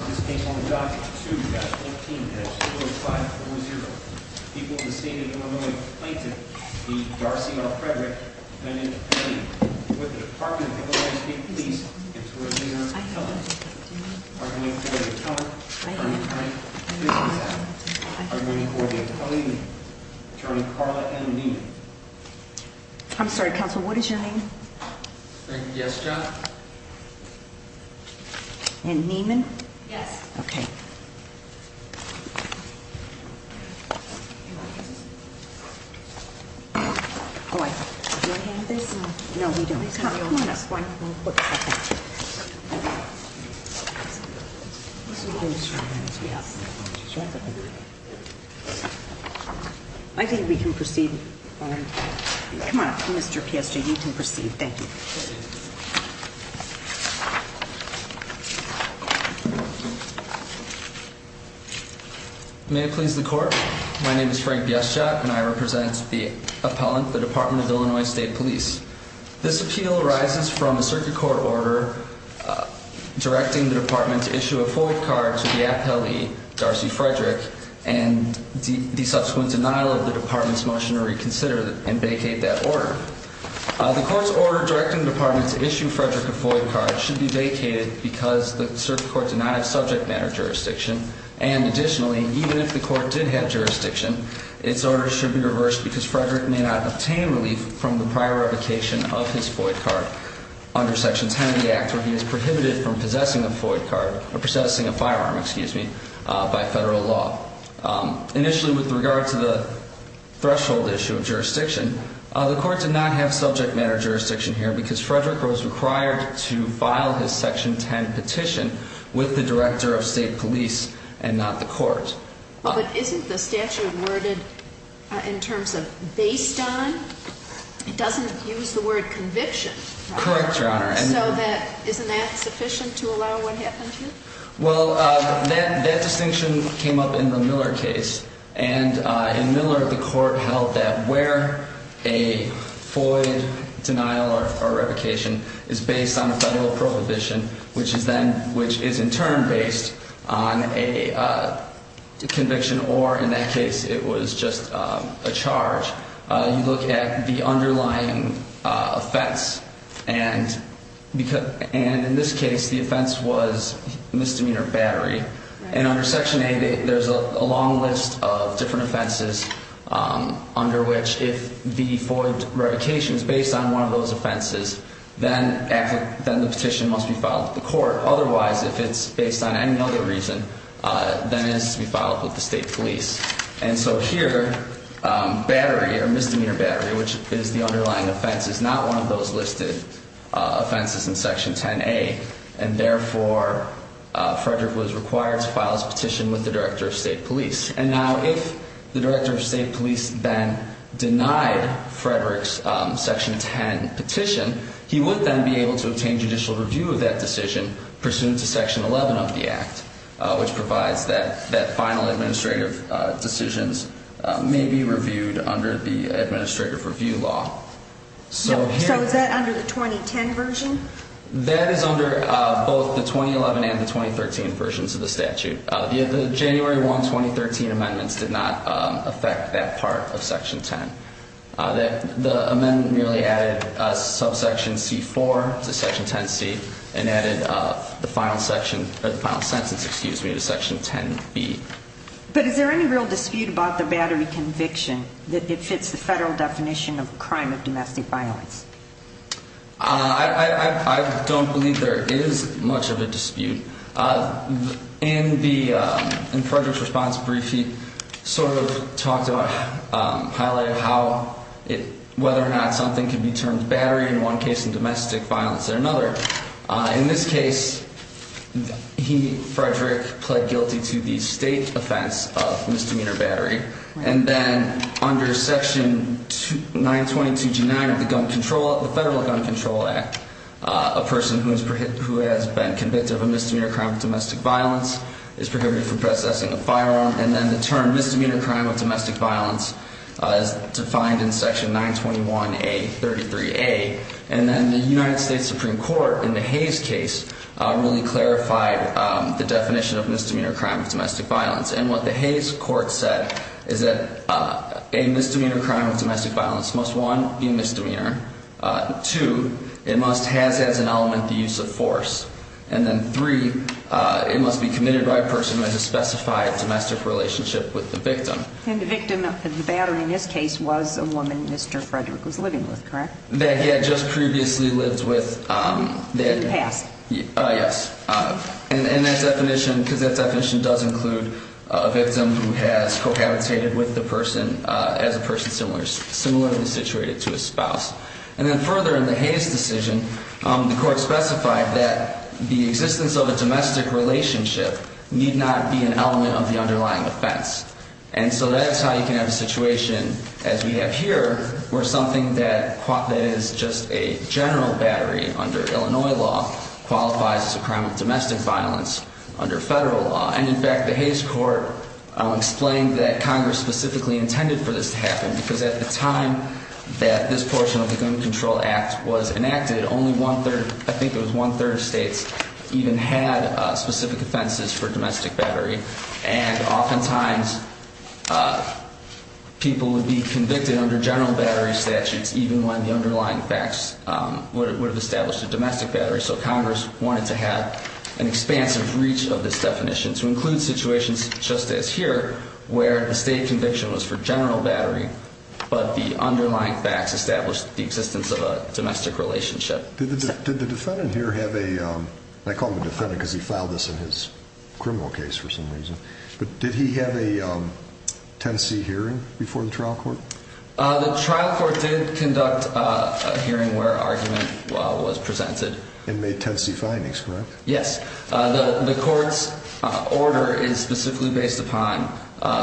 on the dock to 15 5 40 people in the state of Illinois, the Darcy L. Frederick with the Department of Police. I'm sorry, Council. What is your name? Yes, John. And Neiman. Yes. Okay. All right. No, we don't. I think we can proceed. Come on, Mr P. S. J. You can proceed. Thank you. Thank you. May it please the court. My name is Frank. Yes, Jack and I represent the appellant. The Department of Illinois State Police. This appeal arises from the circuit court order directing the department to issue a full card to the appellee Darcy Frederick and the subsequent denial of the department's motion to reconsider and vacate that order. The court's order directing the department to issue Frederick a void card should be vacated because the circuit court did not have subject matter jurisdiction. And additionally, even if the court did have jurisdiction, its order should be reversed because Frederick may not obtain relief from the prior revocation of his void card under Section 10 of the Act, where he is prohibited from possessing a void card or possessing a firearm, excuse me, by federal law. Initially, with regard to the threshold issue of jurisdiction, the court did not have subject matter jurisdiction here because Frederick was required to file his Section 10 petition with the director of state police and not the court. But isn't the statute worded in terms of based on? It doesn't use the word conviction. Correct, Your Honor. And so that isn't that sufficient to allow what happened here? Well, that distinction came up in the Miller case. And in Miller, the court held that where a void denial or revocation is based on a federal prohibition, which is then which is in turn based on a conviction or in that case, it was just a charge. You look at the underlying offense and because and in this case, the offense was misdemeanor battery. And under Section 8, there's a long list of different offenses under which if the void revocation is based on one of those offenses, then the petition must be filed to the court. Otherwise, if it's based on any other reason, then it is to be filed with the state police. And so here, battery or misdemeanor battery, which is the underlying offense, is not one of those listed offenses in Section 10A. And therefore, Frederick was required to file his petition with the director of state police. And now if the director of state police then denied Frederick's Section 10 petition, he would then be able to obtain judicial review of that decision pursuant to Section 11 of the act, which provides that that final administrative decisions may be reviewed under the administrative review law. So is that under the 2010 version? That is under both the 2011 and the 2013 versions of the statute. The January 1, 2013 amendments did not affect that part of Section 10. The amendment merely added subsection C4 to Section 10C and added the final sentence to Section 10B. But is there any real dispute about the battery conviction that it fits the federal definition of a crime of domestic violence? I don't believe there is much of a dispute. In Frederick's response brief, he sort of talked about, highlighted how it, whether or not something can be termed battery in one case and domestic violence in another. In this case, he, Frederick, pled guilty to the state offense of misdemeanor battery. And then under Section 922G9 of the gun control, the Federal Gun Control Act, a person who has been convicted of a misdemeanor crime of domestic violence is prohibited from processing a firearm. And then the term misdemeanor crime of domestic violence is defined in Section 921A33A. And then the United States Supreme Court, in the Hayes case, really clarified the definition of misdemeanor crime of domestic violence. And what the Hayes court said is that a misdemeanor crime of domestic violence must, one, be a misdemeanor. Two, it must has as an element the use of force. And then three, it must be committed by a person who has a specified domestic relationship with the victim. And the victim of the battery in this case was a woman Mr. Frederick was living with, correct? That he had just previously lived with. In the past. Yes. And that definition, because that definition does include a victim who has cohabitated with the person as a person similarly situated to a spouse. And then further in the Hayes decision, the court specified that the existence of a domestic relationship need not be an element of the underlying offense. And so that is how you can have a situation as we have here where something that is just a general battery under Illinois law qualifies as a crime of domestic violence under federal law. And in fact, the Hayes court explained that Congress specifically intended for this to happen because at the time that this portion of the Gun Control Act was enacted, only one-third, I think it was one-third of states even had specific offenses for domestic battery. And oftentimes people would be convicted under general battery statutes even when the underlying facts would have established a domestic battery. So Congress wanted to have an expansive reach of this definition to include situations just as here where the state conviction was for general battery but the underlying facts established the existence of a domestic relationship. Did the defendant here have a, I call him a defendant because he filed this in his criminal case for some reason, but did he have a Tennessee hearing before the trial court? The trial court did conduct a hearing where argument was presented. And made Tennessee findings, correct? Yes. The court's order is specifically based upon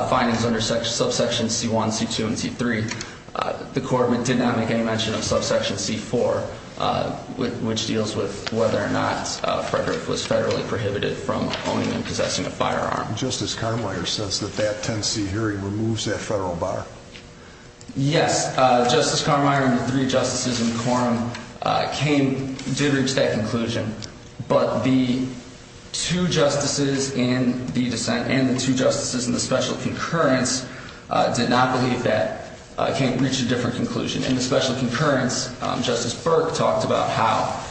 findings under subsection C1, C2, and C3. The court did not make any mention of subsection C4 which deals with whether or not Frederick was federally prohibited from owning and possessing a firearm. Justice Carmeier says that that Tennessee hearing removes that federal bar. Yes. Justice Carmeier and the three justices in the quorum came, did reach that conclusion. But the two justices in the dissent and the two justices in the special concurrence did not believe that, can't reach a different conclusion. In the special concurrence, Justice Burke talked about how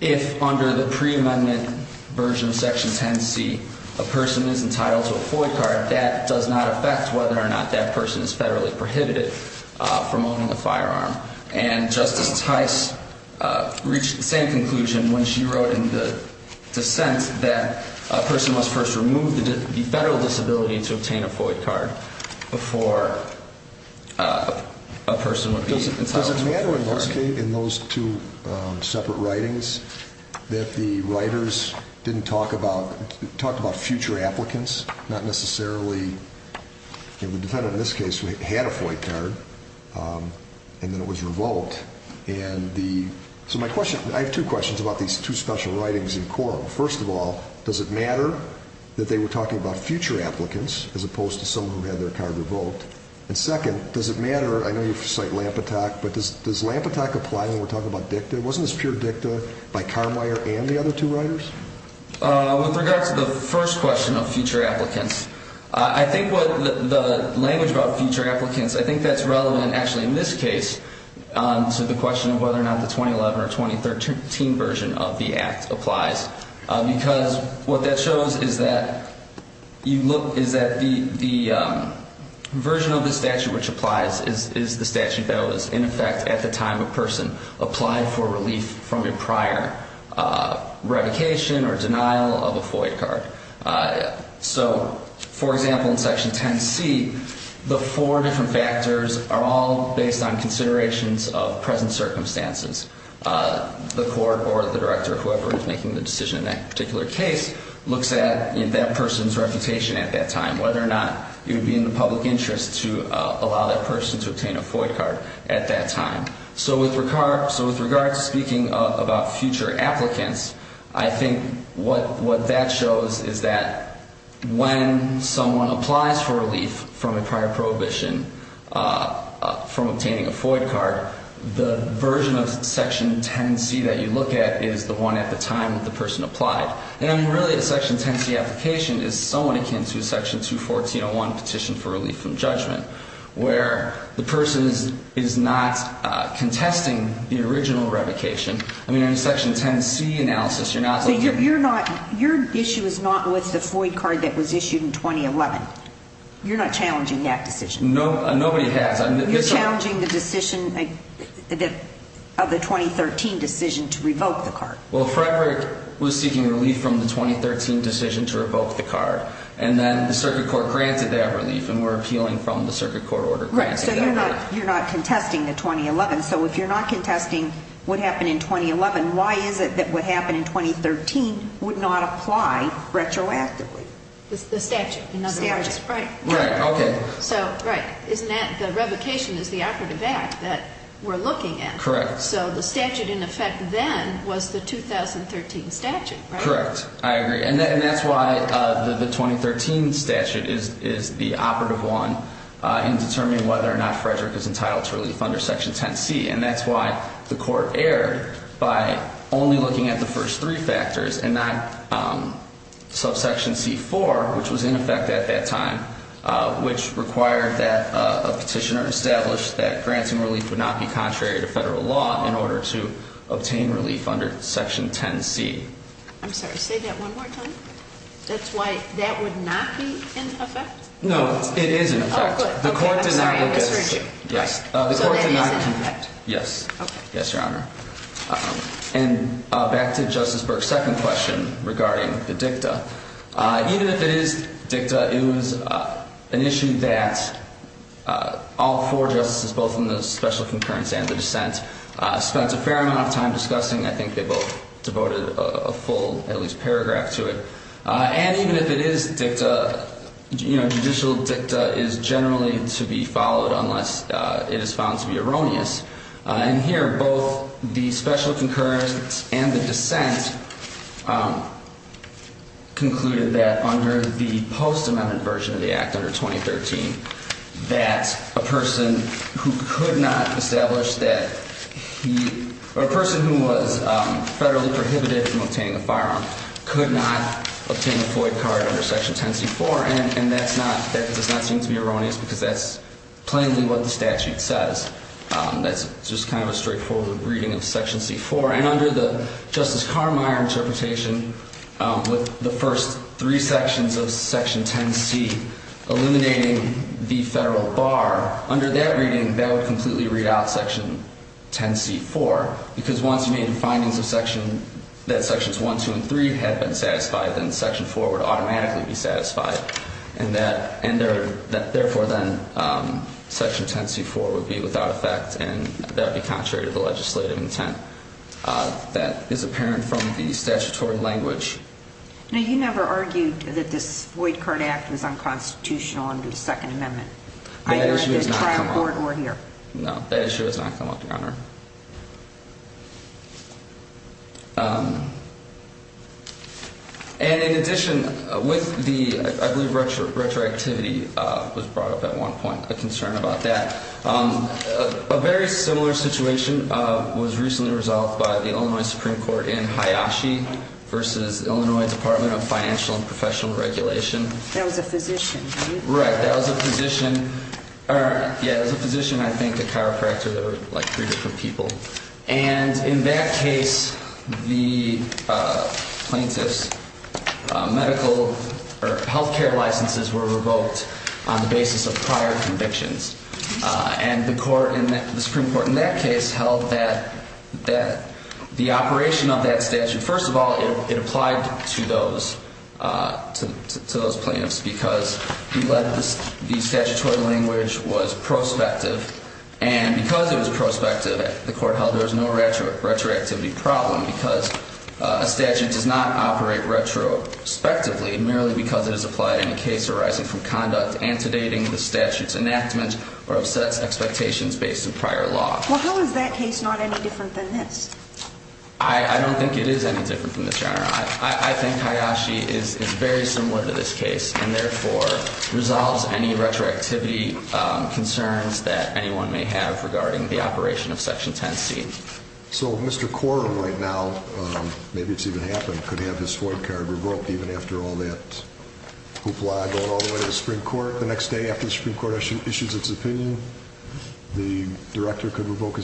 if under the pre-amendment version of section 10C a person is entitled to a FOIA card, that does not affect whether or not that person is federally prohibited from owning a firearm. And Justice Tice reached the same conclusion when she wrote in the dissent that a person must first remove the federal disability to obtain a FOIA card before a person would be entitled to a FOIA card. Does it matter in those two separate writings that the writers didn't talk about, talked about future applicants? Not necessarily, the defendant in this case had a FOIA card and then it was revoked. And the, so my question, I have two questions about these two special writings in quorum. First of all, does it matter that they were talking about future applicants as opposed to someone who had their card revoked? And second, does it matter, I know you cite Lampetak, but does Lampetak apply when we're talking about dicta? Wasn't this pure dicta by Carmeier and the other two writers? With regard to the first question of future applicants, I think what the language about future applicants, I think that's relevant actually in this case to the question of whether or not the 2011 or 2013 version of the Act applies. Because what that shows is that you look, is that the version of the statute which applies is the statute that was in effect at the time a person applied for relief from a prior revocation or denial of a FOIA card. So, for example, in section 10C, the four different factors are all based on considerations of present circumstances. The court or the director, whoever is making the decision in that particular case, looks at that person's reputation at that time, whether or not it would be in the public interest to allow that person to obtain a FOIA card at that time. So with regard to speaking about future applicants, I think what that shows is that when someone applies for relief from a prior prohibition from obtaining a FOIA card, the version of section 10C that you look at is the one at the time that the person applied. And really, a section 10C application is somewhat akin to a section 214.1 petition for relief from judgment, where the person is not contesting the original revocation. I mean, in a section 10C analysis, you're not looking at... So you're not, your issue is not with the FOIA card that was issued in 2011? You're not challenging that decision? Nobody has. You're challenging the decision of the 2013 decision to revoke the card? Well, Frederick was seeking relief from the 2013 decision to revoke the card, and then the circuit court granted that relief, and we're appealing from the circuit court order granting that relief. Right, so you're not contesting the 2011. So if you're not contesting what happened in 2011, why is it that what happened in 2013 would not apply retroactively? The statute, in other words, right. Right, okay. So, right, isn't that the revocation is the operative act that we're looking at? Correct. So the statute in effect then was the 2013 statute, right? Correct, I agree. And that's why the 2013 statute is the operative one in determining whether or not Frederick is entitled to relief under section 10C. And that's why the court erred by only looking at the first three factors and not subsection C4, which was in effect at that time, which required that a petitioner establish that granting relief would not be contrary to federal law in order to obtain relief under section 10C. I'm sorry, say that one more time. That's why that would not be in effect? No, it is in effect. Oh, good. I'm sorry, I misheard you. Yes. So that is in effect? Yes. Okay. Yes, Your Honor. And back to Justice Burke's second question regarding the dicta. Even if it is dicta, it was an issue that all four justices, both in the special concurrence and the dissent, spent a fair amount of time discussing. I think they both devoted a full, at least, paragraph to it. And even if it is dicta, you know, judicial dicta is generally to be followed unless it is found to be erroneous. And here, both the special concurrence and the dissent concluded that under the post-amendment version of the act, under 2013, that a person who could not establish that he, or a person who was federally prohibited from obtaining a firearm could not obtain a Floyd card under section 10C4. And that's not, that does not seem to be erroneous because that's plainly what the statute says. That's just kind of a straightforward reading of section C4. And under the Justice Carmeier interpretation, with the first three sections of section 10C eliminating the federal bar, under that reading, that would completely read out section 10C4 because once you made the findings of section, that sections 1, 2, and 3 had been satisfied, then section 4 would automatically be satisfied. And that, therefore then, section 10C4 would be without effect and that would be contrary to the legislative intent that is apparent from the statutory language. Now, you never argued that this Floyd card act was unconstitutional under the second amendment. That issue has not come up. Either at the trial court or here. No, that issue has not come up, Your Honor. And in addition, with the, I believe retroactivity was brought up at one point, a concern about that. A very similar situation was recently resolved by the Illinois Supreme Court in Hayashi versus Illinois Department of Financial and Professional Regulation. That was a physician, right? Right, that was a physician. Yeah, it was a physician, I think, a chiropractor. There were like three different physicians. And in that case, the plaintiffs' medical or healthcare licenses were revoked on the basis of prior convictions. And the Supreme Court in that case held that the operation of that statute, first of all, it applied to those plaintiffs because the statutory language was prospective and because it was prospective, the court held there was no retroactivity problem because a statute does not operate retrospectively merely because it is applied in a case arising from conduct antedating the statute's enactment or upsets expectations based on prior law. Well, how is that case not any different than this? I don't think it is any different from this, Your Honor. I think Hayashi is very similar to this case and therefore resolves any retroactivity concerns that anyone may have regarding the operation of Section 10C. So Mr. Corum right now, maybe it's even happened, could have his void card revoked even after all that hoopla going all the way to the Supreme Court the next day after the Supreme Court issues its opinion? The director could have revoked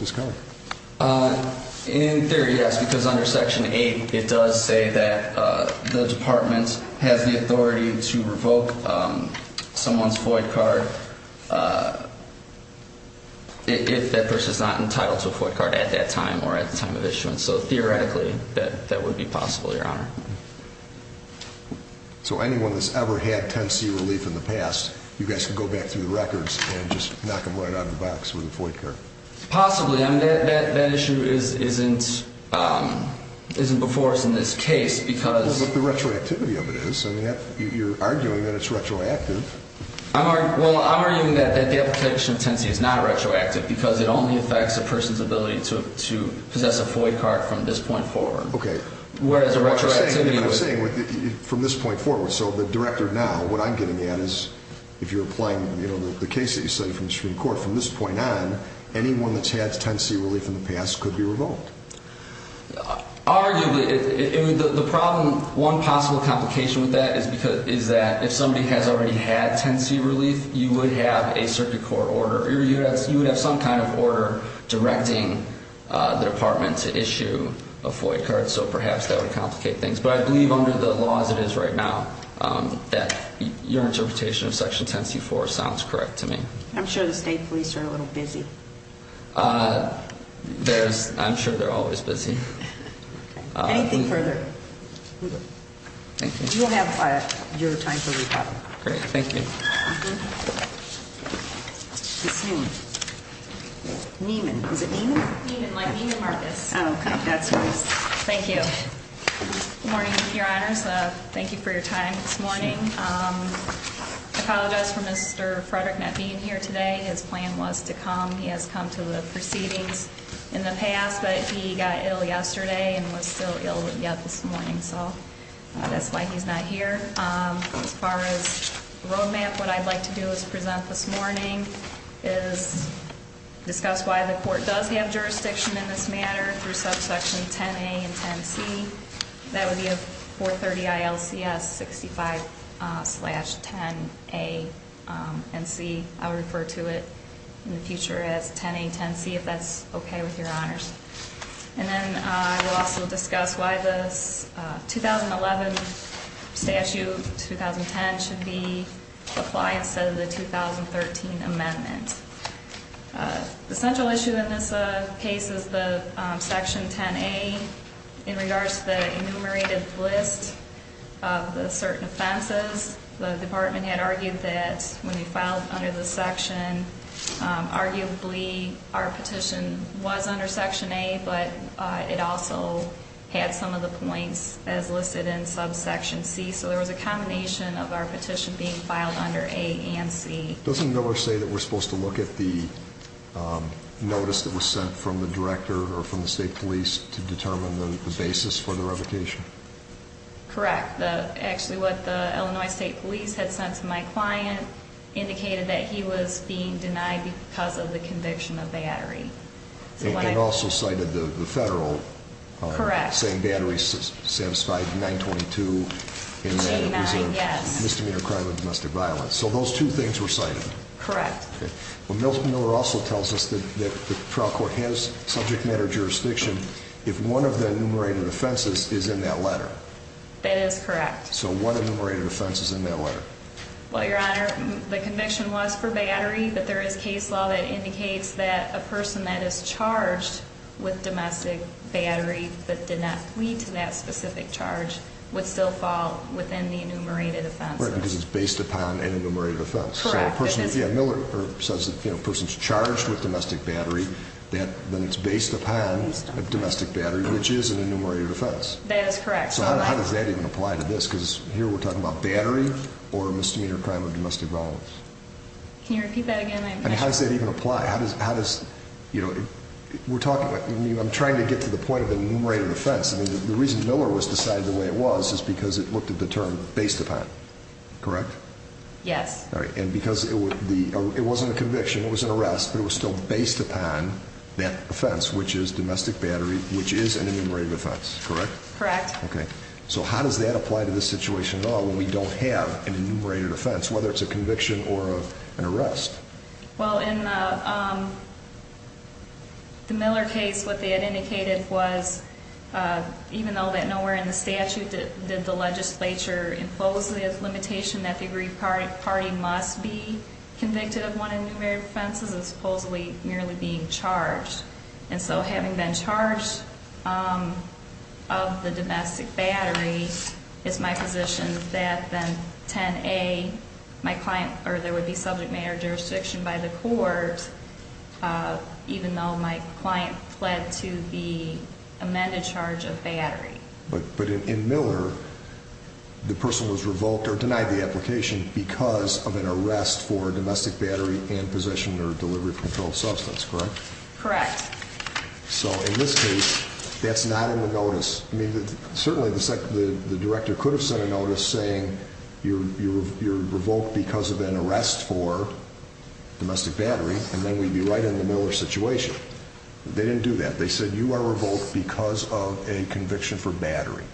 his cover? In theory, yes, because under Section 8, it does say that the department has the authority to revoke someone's void card if that person is not entitled to a void card at that time or at the time of issuance. So theoretically, that would be possible, Your Honor. So anyone that's ever had 10C relief in the past, you guys could go back through the records and just knock them right out of the box with a void card? Possibly. That issue isn't before us in this case because... Well, but the retroactivity of it is. You're arguing that it's retroactive. Well, I'm arguing that the application of 10C is not retroactive because it only affects a person's ability to possess a void card from this point forward. Okay. Whereas a retroactivity... What I'm saying, from this point forward, so the director now, what I'm getting at is, if you're applying the case that you cited from the Supreme Court, from this point on, anyone that's had 10C relief in the past could be revoked? Arguably. The problem, one possible complication with that is that if somebody has already had 10C relief, you would have a circuit court order. You would have some kind of order directing the department to issue a void card. So perhaps that would complicate things. But I believe under the law as it is right now, that your interpretation of Section 10C-4 sounds correct to me. I'm sure the state police are a little busy. I'm sure they're always busy. Anything further? Thank you. You'll have your time to report. Great. Thank you. Ms. Neiman. Neiman. Is it Neiman? Neiman, like Neiman Marcus. Thank you. Good morning, Your Honors. Thank you for your time this morning. I apologize for Mr. Frederick not being here today. His plan was to come. He has come to the proceedings in the past, but he got ill yesterday and was still ill this morning. So that's why he's not here. As far as the road map, what I'd like to do is present this morning, is discuss why the court does have jurisdiction in this matter through subsection 10A and 10C. That would be a 430-ILCS 65-10A and C. I'll refer to it in the future as 10A and 10C if that's okay with Your Honors. And then I will also discuss why this 2011 statute, 2010, should be applied instead of the 2013 amendment. The central issue in this case is the section 10A. In regards to the enumerated list of the certain offenses, the department had argued that when you filed under this section, arguably our petition was under section A, but it also had some of the points as listed in subsection C. So there was a combination of our petition being filed under A and C. Doesn't Miller say that we're supposed to look at the notice that was sent from the director or from the state police to determine the basis for the revocation? Correct. Actually, what the Illinois State Police had sent to my client indicated that he was being denied because of the conviction of battery. It also cited the federal saying battery satisfied 922 and that it was a misdemeanor crime of domestic violence. So those two things were cited. Correct. Well, Miller also tells us that the trial court has subject matter jurisdiction if one of the enumerated offenses is in that letter. That is correct. So one enumerated offense is in that letter. Well, Your Honor, the conviction was for battery, but there is case law that indicates that a person that is charged with domestic battery but did not plead to that specific charge would still fall within the enumerated offense. Right, because it's based upon an enumerated offense. Correct. Miller says that if a person is charged with domestic battery, then it's based upon a domestic battery, which is an enumerated offense. That is correct. So how does that even apply to this? Because here we're talking about battery or misdemeanor crime of domestic violence. Can you repeat that again? How does that even apply? I'm trying to get to the point of the enumerated offense. The reason Miller was decided the way it was is because it looked at the term based upon. Correct? Yes. And because it wasn't a conviction, it was an arrest, but it was still based upon that offense, which is domestic battery, which is an enumerated offense. Correct? Correct. So how does that apply to this situation at all when we don't have an enumerated offense, whether it's a conviction or an arrest? Well, in the Miller case, what they had indicated was even though that nowhere in the statute did the legislature impose the limitation that the aggrieved party must be convicted of one of the enumerated offenses and supposedly merely being charged. And so having been charged of the domestic battery, it's my position that then 10A, my client, or there would be subject matter jurisdiction by the court even though my client fled to the amended charge of battery. But in Miller, the person was revoked because of an arrest for domestic battery and possession or delivery of controlled substance. Correct? Correct. So in this case, that's not in the notice. Certainly the director could have sent a notice saying you're revoked because of an arrest for domestic battery and then we'd be right in the Miller situation. They didn't do that. They said you are revoked because of a conviction for battery.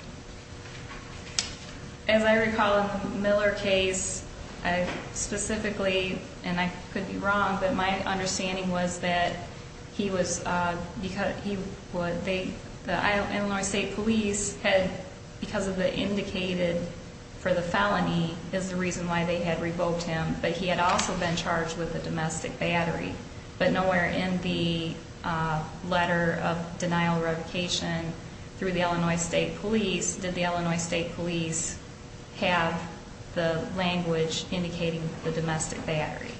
As I recall in the Miller case, specifically, and I could be wrong, but my understanding was that the Illinois State Police had, because of the indicated for the felony is the reason why they had revoked him, but he had also been charged with a domestic battery. But nowhere in the letter of denial of revocation through the Illinois State Police did the Illinois State Police have the language indicating the domestic battery.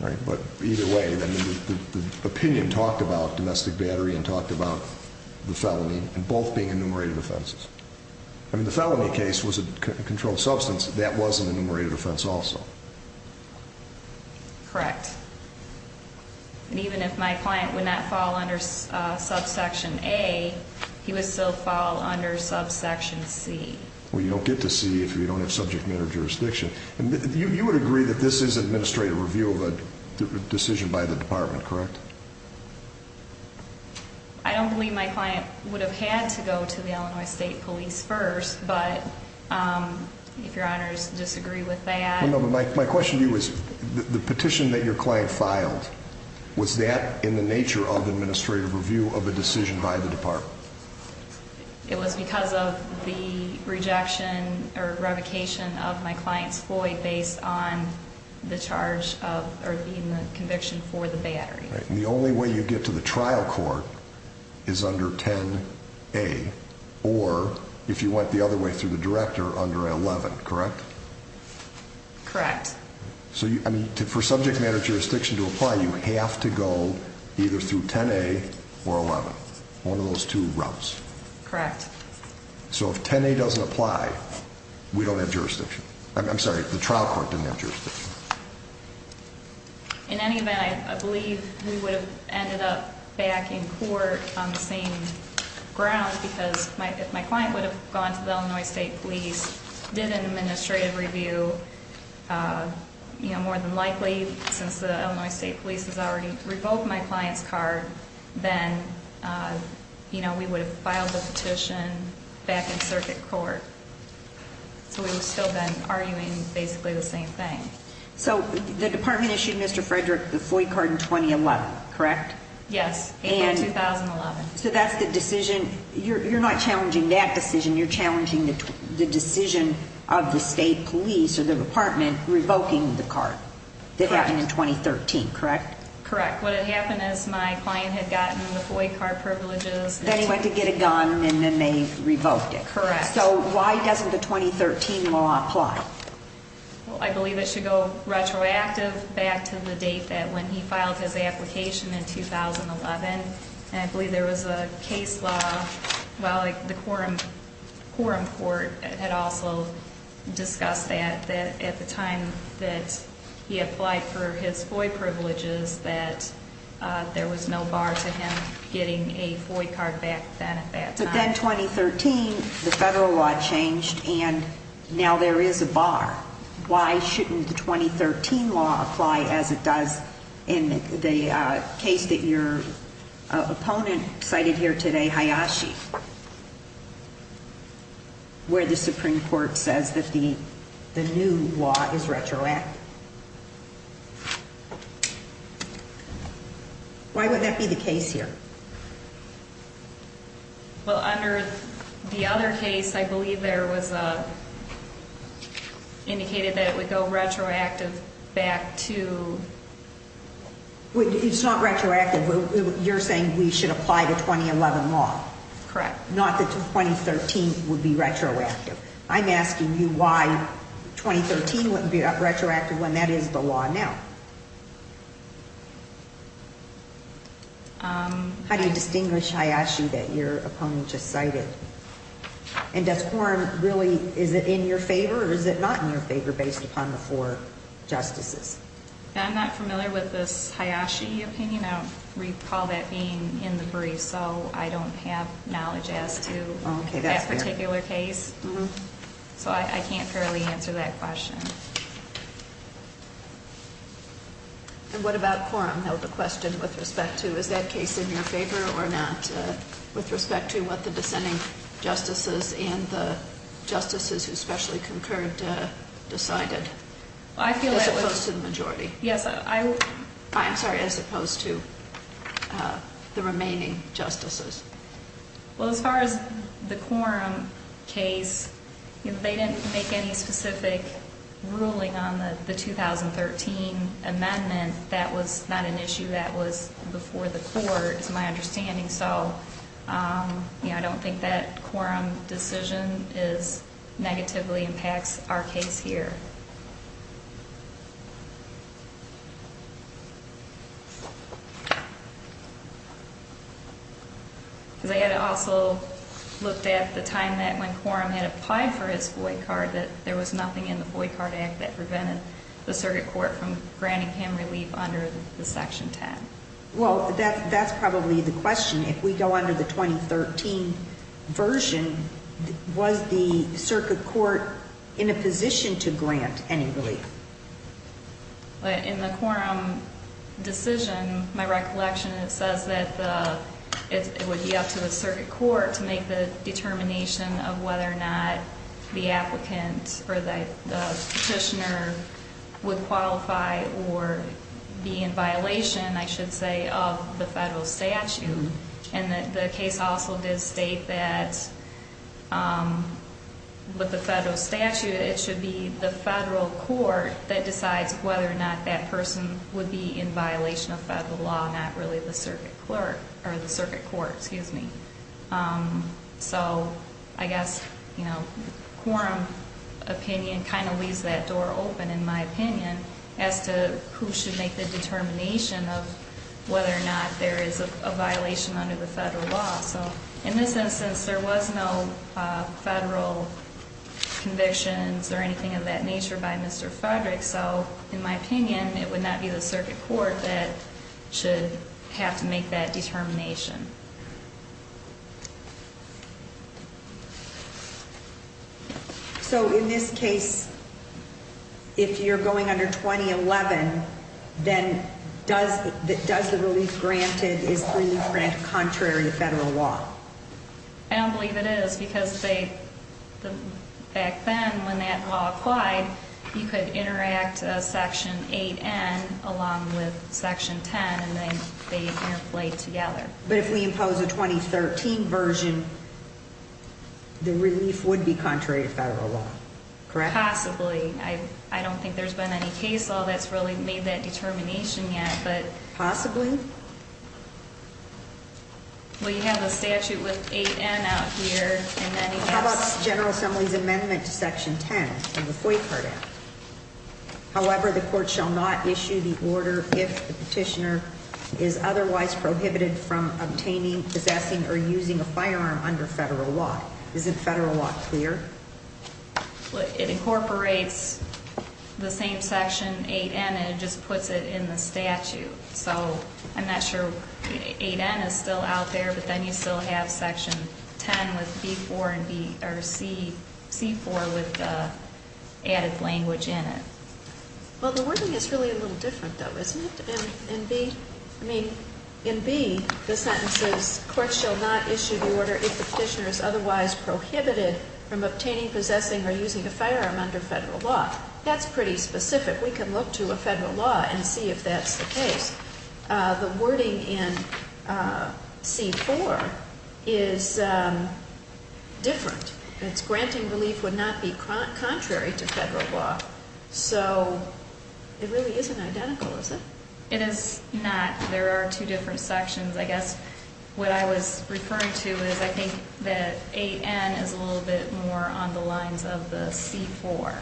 Right. But either way, the opinion talked about domestic battery and talked about the felony and both being enumerated offenses. I mean, the felony case was a controlled substance. That was an enumerated offense also. Correct. And even if my client would not fall under subsection A, he would still fall under subsection C. Well, you don't get to C if you don't have subject matter jurisdiction. And you would agree that this is administrative review of a decision by the department, correct? I don't believe my client would have had to go to the Illinois State Police first, but if your honors disagree with that. No, but my question to you was the petition that your client filed, was that in the nature of administrative review of a decision by the department? It was because of the rejection or revocation of my client's FOIA based on the charge of, or even the conviction of the battery. Right, and the only way you get to the trial court is under 10A, or if you went the other way through the director, under 11, correct? Correct. So for subject matter jurisdiction to apply, you have to go either through 10A or 11. One of those two routes. Correct. So if 10A doesn't apply, we don't have jurisdiction. I believe we would have ended up back in court on the same ground because if my client would have gone to the Illinois State Police, did an administrative review, more than likely, since the Illinois State Police has already revoked my client's card, then we would have filed the petition back in circuit court. So we would have still been arguing basically the same thing. So the department issued Mr. Frederick the FOI card in 2011, correct? Yes, April 2011. So that's the decision, you're not challenging that decision, you're challenging the decision of the state police or the department revoking the card that happened in 2013, correct? Correct. What had happened is my client, I believe it should go retroactive back to the date that when he filed his application in 2011, and I believe there was a case law, the Quorum Court had also discussed that at the time that he applied for his FOI privileges that there was no bar to him getting a FOI card back then at that time. But then 2013, the federal law changed and now there is a bar. Why shouldn't the 2013 law apply as it does in the case that your opponent cited here today, Hayashi, where the Supreme Court says that the new law is retroactive? Why would that be the case here? Well, under the other case, I believe there was indicated that it would go retroactive back to... It's not retroactive. You're saying we should apply the 2011 law. Correct. Not that 2013 would be retroactive. I'm asking you why 2013 wouldn't be retroactive when that is the law now. How do you distinguish Hayashi that your opponent just cited? And does Quorum really... Is it in your favor or is it not in your favor based upon the four Justices? I'm not familiar with this Hayashi opinion. I recall that being in the brief, so I don't have knowledge as to that particular case. So I can't fairly answer that question. And what about Quorum? Is that case in your favor or not with respect to what the dissenting Justices and the Justices who specially concurred decided as opposed to the remaining Justices? Well, as far as the Quorum case, they didn't make any specific ruling on the 2013 amendment. That was not an issue that was before the Court, is my understanding. So I don't think that Quorum decision negatively impacts our case here. I also looked at the time that he had applied for his boy card, that there was nothing in the boy card act that prevented the Circuit Court from granting him relief under the Section 10. Well, that's probably the question. If we go under the 2013 version, was the Circuit Court in a position to grant any relief? In the Quorum decision, it was stated that the petitioner would qualify or be in violation, I should say, of the federal statute. And the case also did state that with the federal statute, it should be the federal court that decides whether or not that person would be in violation of federal law, not really the Circuit Court. So I guess Quorum opinion kind of leaves that door open, in my opinion, as to who should make the determination of whether or not there is a violation under the federal law. So in this instance, there was no federal convictions or anything of that nature by Mr. Frederick, so in my opinion, it would not be the Circuit Court that should have to make that determination. So in this case, if you're going under 2011, then does the relief granted, is relief granted contrary to federal law? I don't believe it is, because back then, when that law applied, you could interact Section 8N along with Section 10, and then they interplayed together. But if we impose a 2013 version, the relief would be contrary to federal law, correct? Possibly. I don't think there's been any case law that's really made that determination yet. Possibly? Well, you have a statute with 8N out here. How about the General Assembly's amendment to Section 10, the FOIC card act? However, the court shall not issue the order if the petitioner is otherwise prohibited from obtaining, possessing, or using a firearm under federal law. Isn't federal law clear? It incorporates the same Section 8N, and it just puts it in the statute. So I'm not sure 8N is still out there, but then you still have Section 10 with C4 with the added language in it. Well, the wording is really a little different, though, isn't it? In B, the sentence is, courts shall not issue the order if the petitioner is otherwise prohibited from obtaining, possessing, or using a firearm under federal law. That's pretty specific. We can look to a federal law and see if that's the case. The wording in C4 is different. It's granting relief would not be contrary to federal law. So it really isn't identical, is it? It is not. There are two different sections. I guess what I was referring to is I think that 8N is a little bit more on the lines of the C4.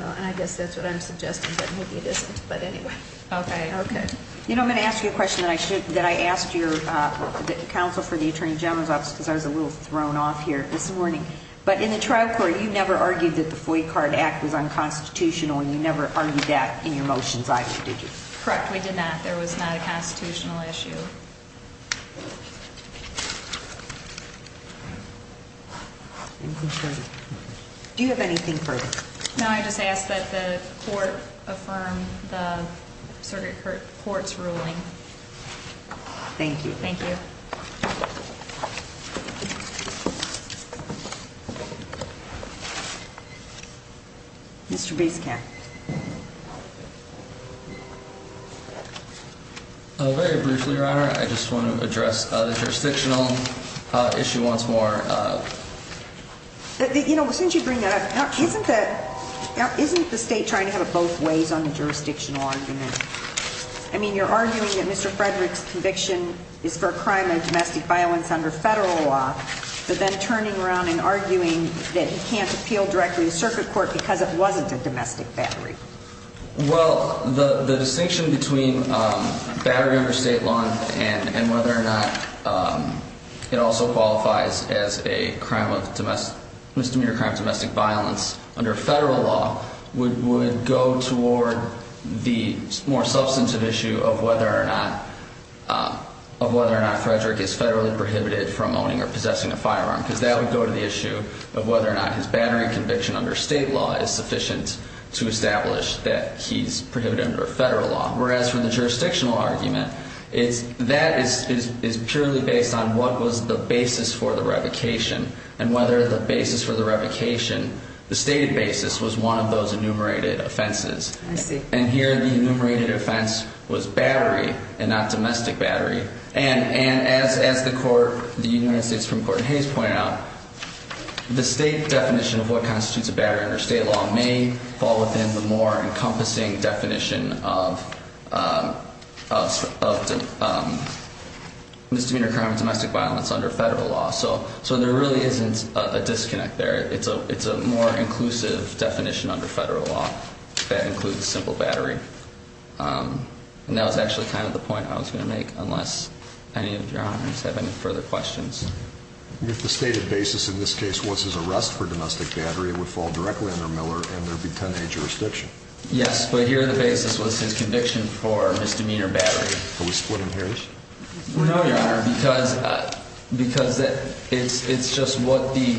And I guess that's what I'm suggesting, but maybe it isn't. But anyway. Okay. Okay. You know, I'm going to ask you a question that I asked your counsel for the Attorney General's Office because I was a little thrown off here this morning. But in the trial court, you never argued that the Foy Card Act was unconstitutional and you never argued that in your motions either, did you? Correct. We did not. There was not a constitutional issue. Do you have anything further? No. I just ask that the court affirm the Circuit Court's ruling. Thank you. Thank you. Mr. Biscat. Very briefly, Your Honor. I just want to address the jurisdictional issue once more. You know, since you bring that up, isn't that, isn't the state trying to have it both ways on the jurisdictional argument? I mean, you're arguing that Mr. Frederick's conviction is for a crime of domestic violence under federal law, but then turning around and arguing that he can't appeal directly to the Circuit Court because it wasn't a domestic battery. Well, the distinction between battery under state law and whether or not it also qualifies as a crime of domestic, misdemeanor crime of domestic violence under federal law would go toward the more substantive issue of whether or not, of whether or not Frederick is federally prohibited from owning or possessing a firearm because that would go to the issue of whether or not his battery conviction under state law is sufficient to establish that he's prohibited under a federal law, whereas for the jurisdictional argument, that is purely based on what was the basis for the revocation and whether the basis for the revocation, the stated basis, was one of those enumerated offenses. I see. And here the enumerated offense was battery and not domestic battery. And as the court, the United States Supreme Court has pointed out, the state definition of what constitutes a battery under state law may fall within the more encompassing definition of misdemeanor crime and domestic violence under federal law. So there really isn't a disconnect there. It's a more inclusive definition under federal law that includes simple battery. And that was actually kind of the point I was going to make unless any of the other comments have any further questions. If the stated basis in this case was his arrest for domestic battery it would fall directly under Miller and there'd be 10A jurisdiction. Yes, but here the basis was his conviction for misdemeanor battery. Are we splitting hairs? No, Your Honor, because it's just what the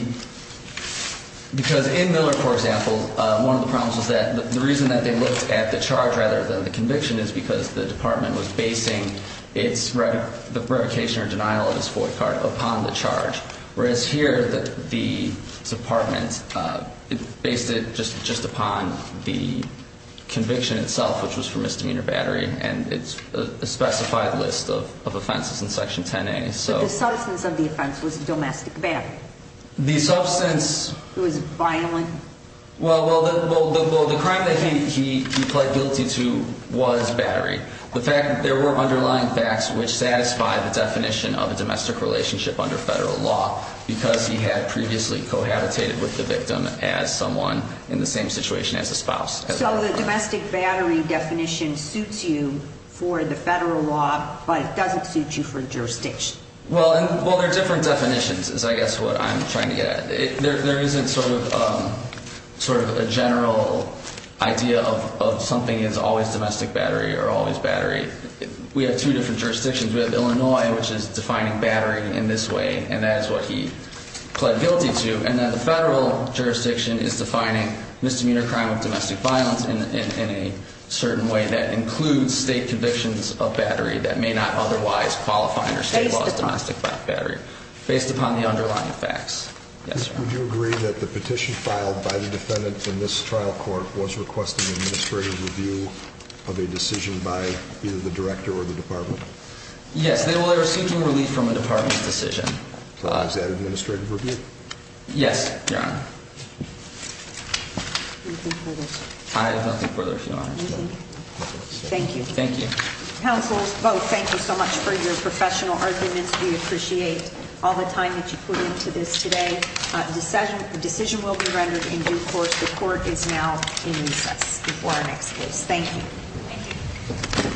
because in Miller, for example, the reason they looked at the charge rather than the conviction is because the department was basing the revocation or denial of this void card upon the charge. Whereas here the department based it just upon the conviction itself which was for misdemeanor battery and it's a specified list of offenses in section 10A. But the substance of the crime that he pled guilty to was battery. The fact that there were underlying facts which satisfy the definition of a domestic relationship under federal law because he had previously cohabitated with the victim as someone in the same situation as the spouse. So the domestic battery definition suits you for the federal law but doesn't suit you for jurisdiction. Well there are different definitions is what I'm trying to get at. There isn't sort of a general idea of something is always domestic battery or always battery. We have two different jurisdictions. We have Illinois which is defining battery in this way and that is what he pled guilty to and the federal jurisdiction is defining misdemeanor crime of domestic violence in a certain way that includes state convictions of battery that may not otherwise qualify under state laws as domestic battery based upon the underlying facts. Would you agree that the petition filed by the defendant in this trial court was requesting administrative review of a decision by either the director or the department? Yes, they will receive some relief from the department's decision. Is that administrative review? Yes, Your Honor. I have nothing further if Your Honor. Thank you. Thank you. Counsel, both, thank you so much for your professional arguments. We appreciate all the time that you put into this today. The decision will be rendered in due course. The court is now in recess before our next case. Thank you.